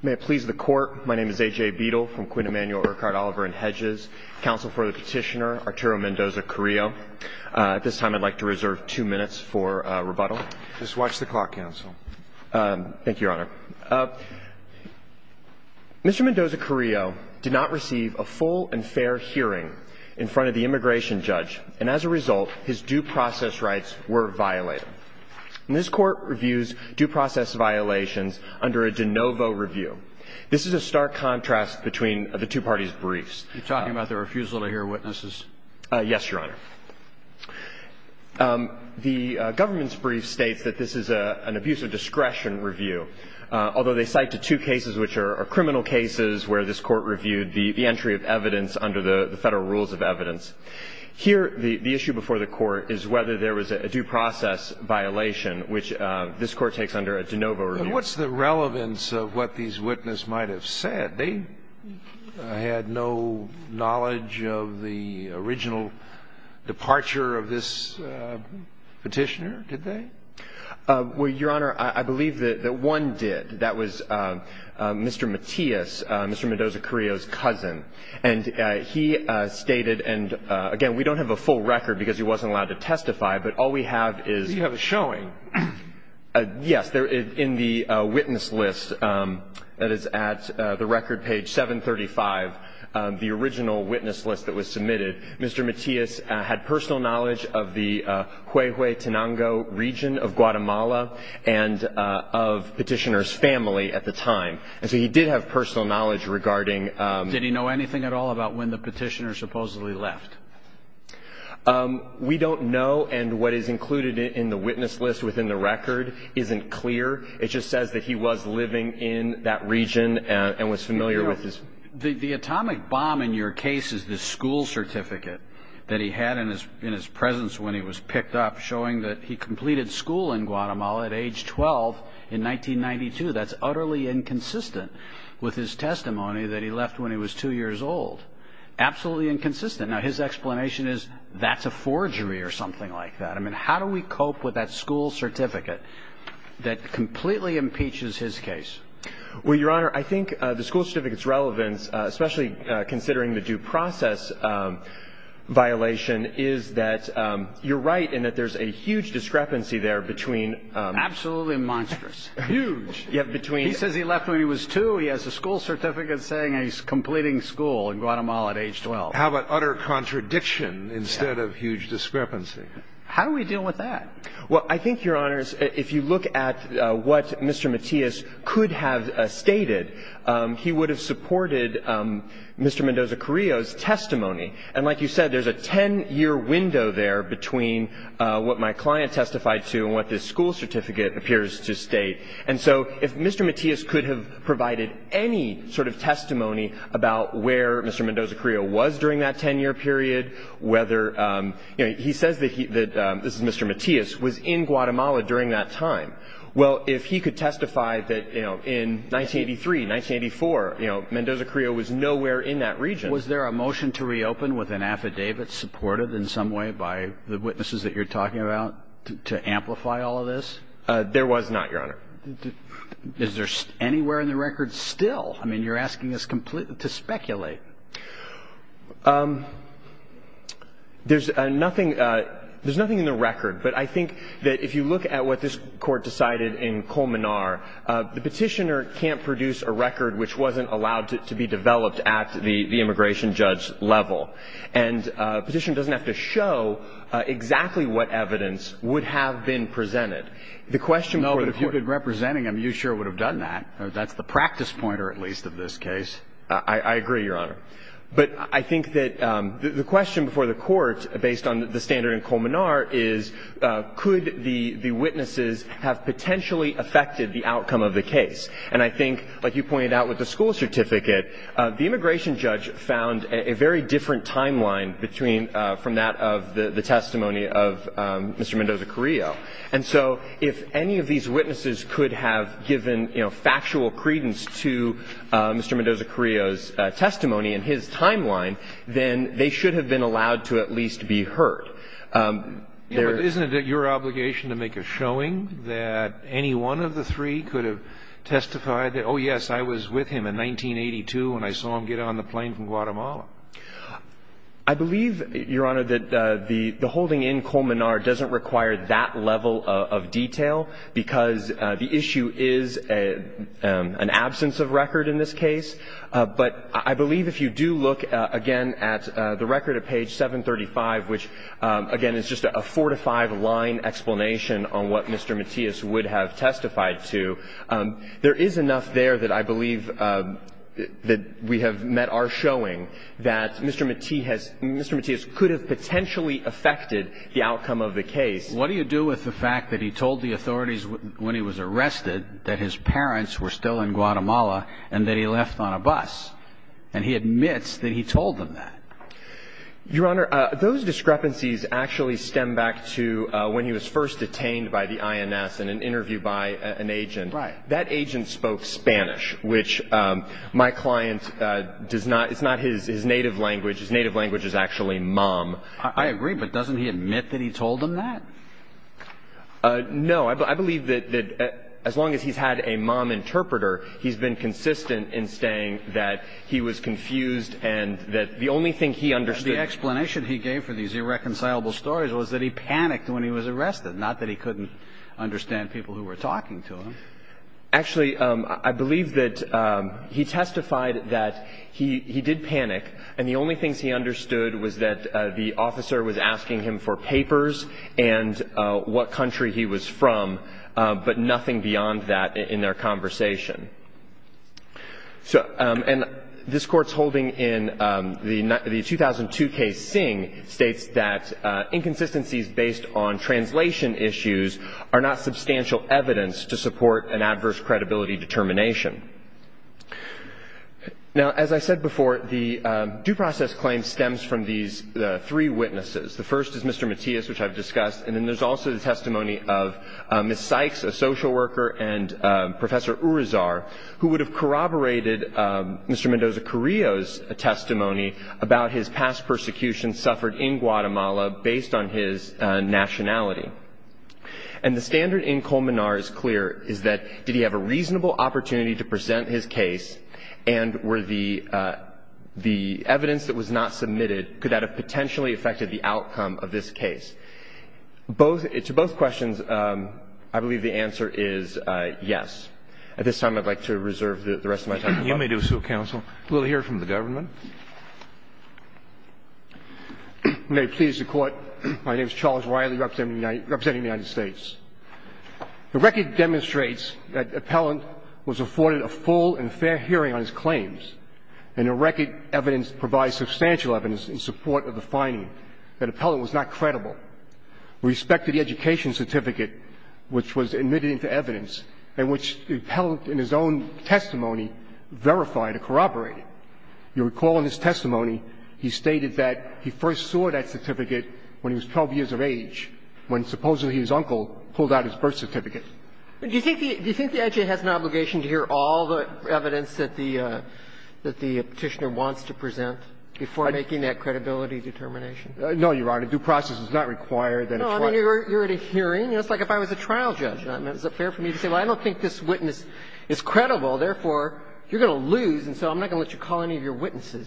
May it please the court, my name is A.J. Beadle from Quinn Emanuel, Urquhart, Oliver & Hedges, counsel for the petitioner, Arturo Mendoza-Carrillo. At this time I'd like to reserve two minutes for rebuttal. Just watch the clock, counsel. Thank you, Your Honor. Mr. Mendoza-Carrillo did not receive a full and fair hearing in front of the immigration judge, and as a result, his due process rights were violated. This court reviews due process violations under a de novo review. This is a stark contrast between the two parties' briefs. You're talking about the refusal to hear witnesses? Yes, Your Honor. The government's brief states that this is an abuse of discretion review, although they cite the two cases which are criminal cases where this court reviewed the entry of evidence under the federal rules of evidence. Here, the issue before the court is whether there was a due process violation, which this court takes under a de novo review. What's the relevance of what these witnesses might have said? They had no knowledge of the original departure of this petitioner, did they? Well, Your Honor, I believe that one did. That was Mr. Matias, Mr. Mendoza-Carrillo's cousin. And he stated, and again, we don't have a full record because he wasn't allowed to testify, but all we have is – You have a showing. Yes. In the witness list that is at the record page 735, the original witness list that was submitted, Mr. Matias had personal knowledge of the Huehuetenango region of Guatemala and of petitioner's family at the time. And so he did have personal knowledge regarding – Did he know anything at all about when the petitioner supposedly left? We don't know, and what is included in the witness list within the record isn't clear. It just says that he was living in that region and was familiar with his – The atomic bomb in your case is the school certificate that he had in his presence when he was picked up showing that he completed school in Guatemala at age 12 in 1992. That's utterly inconsistent with his testimony that he left when he was 2 years old. Absolutely inconsistent. Now, his explanation is that's a forgery or something like that. I mean, how do we cope with that school certificate that completely impeaches his case? Well, Your Honor, I think the school certificate's relevance, especially considering the due process violation, is that you're right in that there's a huge discrepancy there between – Absolutely monstrous. Huge. Yeah, between – He says he left when he was 2. He has a school certificate saying he's completing school in Guatemala at age 12. How about utter contradiction instead of huge discrepancy? How do we deal with that? Well, I think, Your Honors, if you look at what Mr. Matias could have stated, he would have supported Mr. Mendoza-Correa's testimony. And like you said, there's a 10-year window there between what my client testified to and what this school certificate appears to state. And so if Mr. Matias could have provided any sort of testimony about where Mr. Mendoza-Correa was during that 10-year period, whether – You know, he says that – this is Mr. Matias – was in Guatemala during that time. Well, if he could testify that, you know, in 1983, 1984, you know, Mendoza-Correa was nowhere in that region – Was there a motion to reopen with an affidavit supported in some way by the witnesses that you're talking about to amplify all of this? There was not, Your Honor. Is there anywhere in the record still? I mean, you're asking us completely to speculate. There's nothing – there's nothing in the record, but I think that if you look at what this Court decided in Colmenar, the petitioner can't produce a record which wasn't allowed to be developed at the immigration judge level. And a petitioner doesn't have to show exactly what evidence would have been presented. The question – No, but if you'd been representing him, you sure would have done that. That's the practice pointer, at least, of this case. I agree, Your Honor. But I think that the question before the Court, based on the standard in Colmenar, is could the witnesses have potentially affected the outcome of the case? And I think, like you pointed out with the school certificate, the immigration judge found a very different timeline between – from that of the testimony of Mr. Mendoza-Correa. And so if any of these witnesses could have given, you know, factual credence to Mr. Mendoza-Correa's testimony in his timeline, then they should have been allowed to at least be heard. Isn't it your obligation to make a showing that any one of the three could have testified that, oh, yes, I was with him in 1982 when I saw him get on the plane from Guatemala? I believe, Your Honor, that the holding in Colmenar doesn't require that level of detail because the issue is an absence of record in this case. But I believe if you do look, again, at the record at page 735, which, again, is just a four-to-five line explanation on what Mr. Matias would have testified to, there is enough there that I believe that we have met our showing that Mr. Matias could have potentially affected the outcome of the case. What do you do with the fact that he told the authorities when he was arrested that his parents were still in Guatemala and that he left on a bus? And he admits that he told them that. Your Honor, those discrepancies actually stem back to when he was first detained by the INS in an interview by an agent. Right. That agent spoke Spanish, which my client does not. It's not his native language. His native language is actually mom. I agree. But doesn't he admit that he told them that? No. I believe that as long as he's had a mom interpreter, he's been consistent in saying that he was confused and that the only thing he understood. The explanation he gave for these irreconcilable stories was that he panicked when he was arrested, not that he couldn't understand people who were talking to him. Actually, I believe that he testified that he did panic, and the only things he understood was that the officer was asking him for papers and what country he was from, but nothing beyond that in their conversation. And this Court's holding in the 2002 case Singh states that inconsistencies based on translation issues are not substantial evidence to support an adverse credibility determination. Now, as I said before, the due process claim stems from these three witnesses. The first is Mr. Matias, which I've discussed, and then there's also the testimony of Ms. Sykes, a social worker, and Professor Urizar, who would have corroborated Mr. Mendoza-Carrillo's testimony about his past persecution suffered in Guatemala based on his nationality. And the standard in Colmenar is clear, is that did he have a reasonable opportunity to present his case, and were the evidence that was not submitted, could that have potentially affected the outcome of this case? To both questions, I believe the answer is yes. At this time, I'd like to reserve the rest of my time. Roberts. You may do so, counsel. We'll hear from the government. May it please the Court. My name is Charles Riley, representing the United States. The record demonstrates that the appellant was afforded a full and fair hearing on his claims, and the record evidence provides substantial evidence in support of the finding that the appellant was not credible with respect to the education certificate which was admitted into evidence and which the appellant in his own testimony verified or corroborated. You'll recall in his testimony he stated that he first saw that certificate when he was 12 years of age, when supposedly his uncle pulled out his birth certificate. Do you think the edge has an obligation to hear all the evidence that the Petitioner wants to present before making that credibility determination? No, Your Honor. A due process is not required. No, I mean, you're at a hearing. It's like if I was a trial judge. Is it fair for me to say, well, I don't think this witness is credible, therefore you're going to lose, and so I'm not going to let you call any of your witnesses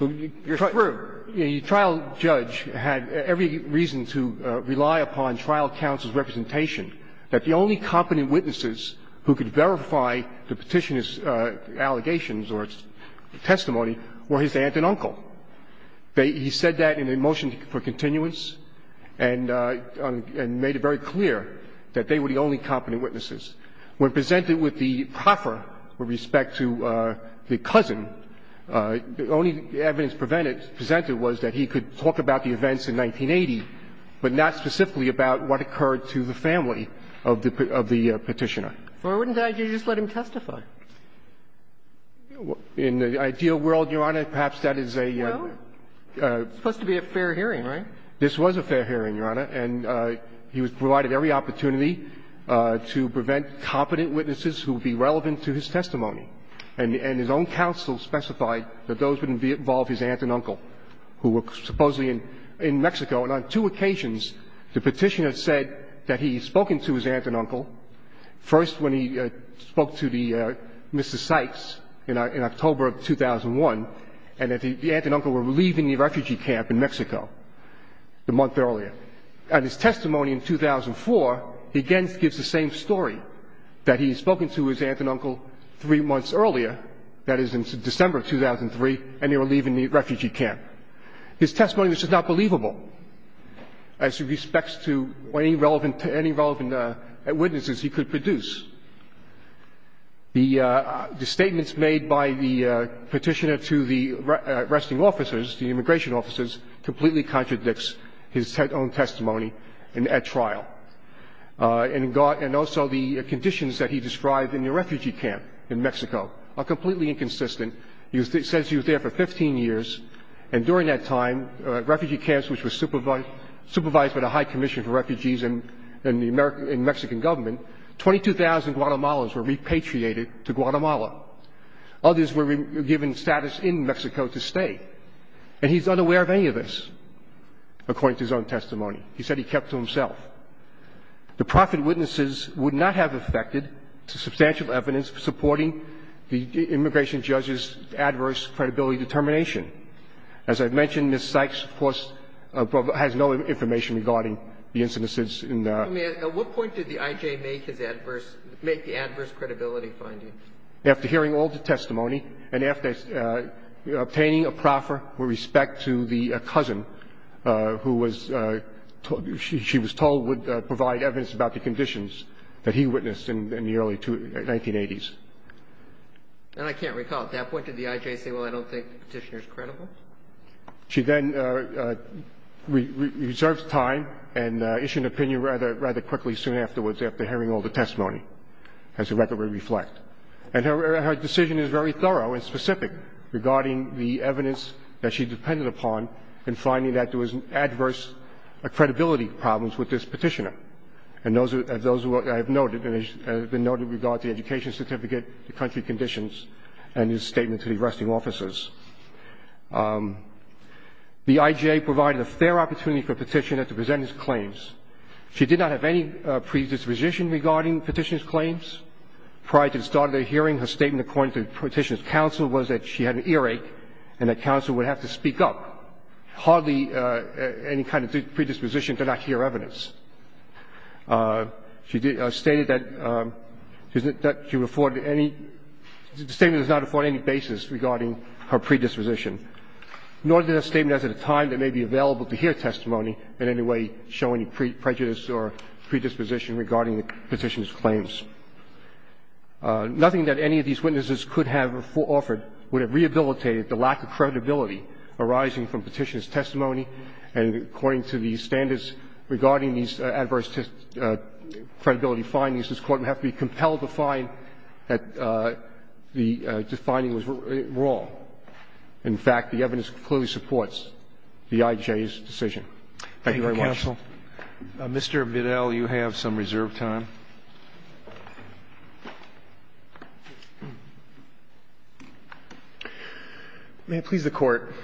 who you're through. The trial judge had every reason to rely upon trial counsel's representation that the only competent witnesses who could verify the Petitioner's allegations or testimony were his aunt and uncle. He said that in a motion for continuance and made it very clear that they were the only competent witnesses. When presented with the proffer with respect to the cousin, the only evidence presented was that he could talk about the events in 1980, but not specifically about what occurred to the family of the Petitioner. Why wouldn't you just let him testify? In the ideal world, Your Honor, perhaps that is a ---- Well, it's supposed to be a fair hearing, right? This was a fair hearing, Your Honor, and he was provided every opportunity to prevent competent witnesses who would be relevant to his testimony. And his own counsel specified that those wouldn't involve his aunt and uncle, who were supposedly in Mexico. And on two occasions, the Petitioner said that he had spoken to his aunt and uncle, first when he spoke to the Mr. Sykes in October of 2001, and that the aunt and uncle were leaving the refugee camp in Mexico the month earlier. At his testimony in 2004, he again gives the same story, that he had spoken to his aunt and uncle the month earlier, that is, in December of 2003, and they were leaving the refugee camp. His testimony is just not believable as it respects to any relevant ---- any relevant witnesses he could produce. The statements made by the Petitioner to the arresting officers, the immigration officers, completely contradicts his own testimony at trial. And also the conditions that he described in the refugee camp in Mexico are completely inconsistent. He says he was there for 15 years, and during that time, refugee camps which were supervised by the High Commission for Refugees and the Mexican government, 22,000 Guatemalans were repatriated to Guatemala. Others were given status in Mexico to stay. And he's unaware of any of this, according to his own testimony. He said he kept to himself. The proffered witnesses would not have affected substantial evidence supporting the immigration judge's adverse credibility determination. As I've mentioned, Ms. Sykes, of course, has no information regarding the incidences in the ---- Sotomayor, at what point did the I.J. make his adverse ---- make the adverse credibility finding? After hearing all the testimony and after obtaining a proffer with respect to the conditions that he witnessed in the early 1980s. And I can't recall. At that point, did the I.J. say, well, I don't think the Petitioner is credible? She then reserves time and issued an opinion rather quickly soon afterwards after hearing all the testimony, as the record would reflect. And her decision is very thorough and specific regarding the evidence that she depended upon in finding that there was adverse credibility problems with this Petitioner. And those are those who I have noted and have been noted with regard to the education certificate, the country conditions, and his statement to the arresting officers. The I.J. provided a fair opportunity for Petitioner to present his claims. She did not have any predisposition regarding Petitioner's claims. Prior to the start of the hearing, her statement according to Petitioner's counsel was that she had an earache and that counsel would have to speak up. Hardly any kind of predisposition to not hear evidence. She stated that she afforded any – the statement does not afford any basis regarding her predisposition, nor did the statement at the time that may be available to hear testimony in any way show any prejudice or predisposition regarding the Petitioner's claims. Nothing that any of these witnesses could have offered would have rehabilitated the lack of credibility arising from Petitioner's testimony. And according to the standards regarding these adverse credibility findings, this Court would have to be compelled to find that the finding was wrong. In fact, the evidence clearly supports the I.J.'s decision. Thank you very much. Thank you, counsel. Mr. Bidell, you have some reserved time. May it please the Court.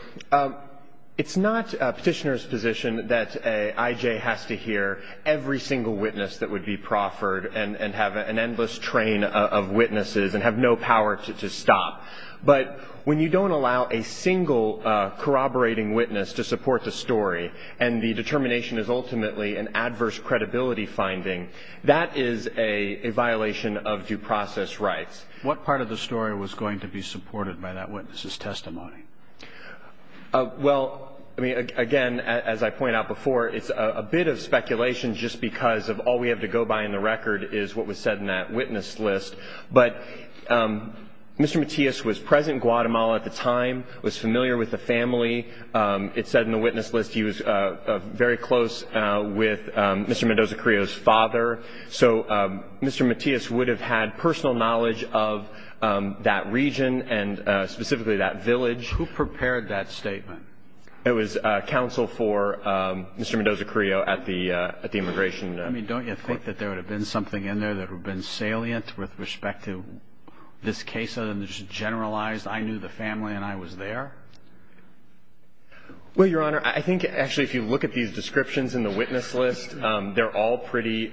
It's not Petitioner's position that an I.J. has to hear every single witness that would be proffered and have an endless train of witnesses and have no power to stop. But when you don't allow a single corroborating witness to support the story and the determination is ultimately an adverse credibility finding, that is a violation of due process rights. What part of the story was going to be supported by that witness's testimony? Well, I mean, again, as I pointed out before, it's a bit of speculation just because of all we have to go by in the record is what was said in that witness list. But Mr. Matias was present in Guatemala at the time, was familiar with the family. It said in the witness list he was very close with Mr. Mendoza-Creo's father. So Mr. Matias would have had personal knowledge of that region and specifically that village. Who prepared that statement? It was counsel for Mr. Mendoza-Creo at the immigration court. I mean, don't you think that there would have been something in there that would have been salient with respect to this case other than just generalized, I knew the family and I was there? Well, Your Honor, I think actually if you look at these descriptions in the witness list, they're all pretty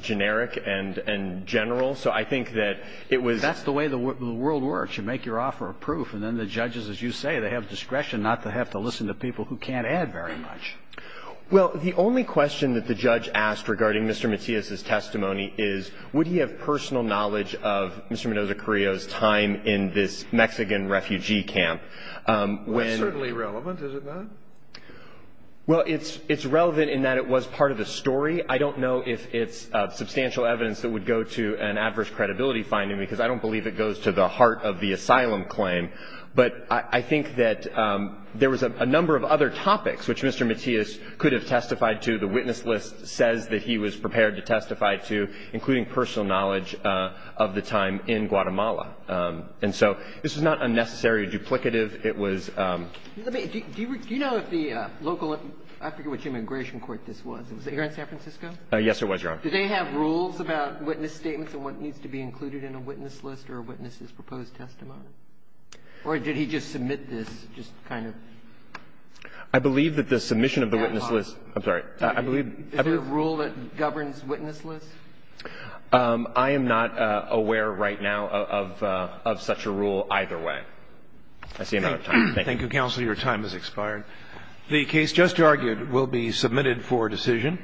generic and general. So I think that it was the way the world works. You make your offer of proof and then the judges, as you say, they have discretion not to have to listen to people who can't add very much. Well, the only question that the judge asked regarding Mr. Matias' testimony is would he have personal knowledge of Mr. Mendoza-Creo's time in this Mexican refugee camp? Well, it's certainly relevant, is it not? Well, it's relevant in that it was part of the story. I don't know if it's substantial evidence that would go to an adverse credibility finding because I don't believe it goes to the heart of the asylum claim. But I think that there was a number of other topics which Mr. Matias could have testified to. The witness list says that he was prepared to testify to, including personal knowledge of the time in Guatemala. And so this is not unnecessary or duplicative. It was — Do you know if the local — I forget which immigration court this was. Was it here in San Francisco? Yes, it was, Your Honor. Do they have rules about witness statements and what needs to be included in a witness list or a witness's proposed testimony? Or did he just submit this just kind of — I believe that the submission of the witness list — I'm sorry. I believe — Is there a rule that governs witness lists? I am not aware right now of such a rule either way. I see no time. Thank you. Thank you, counsel. Your time has expired. The case just argued will be submitted for decision.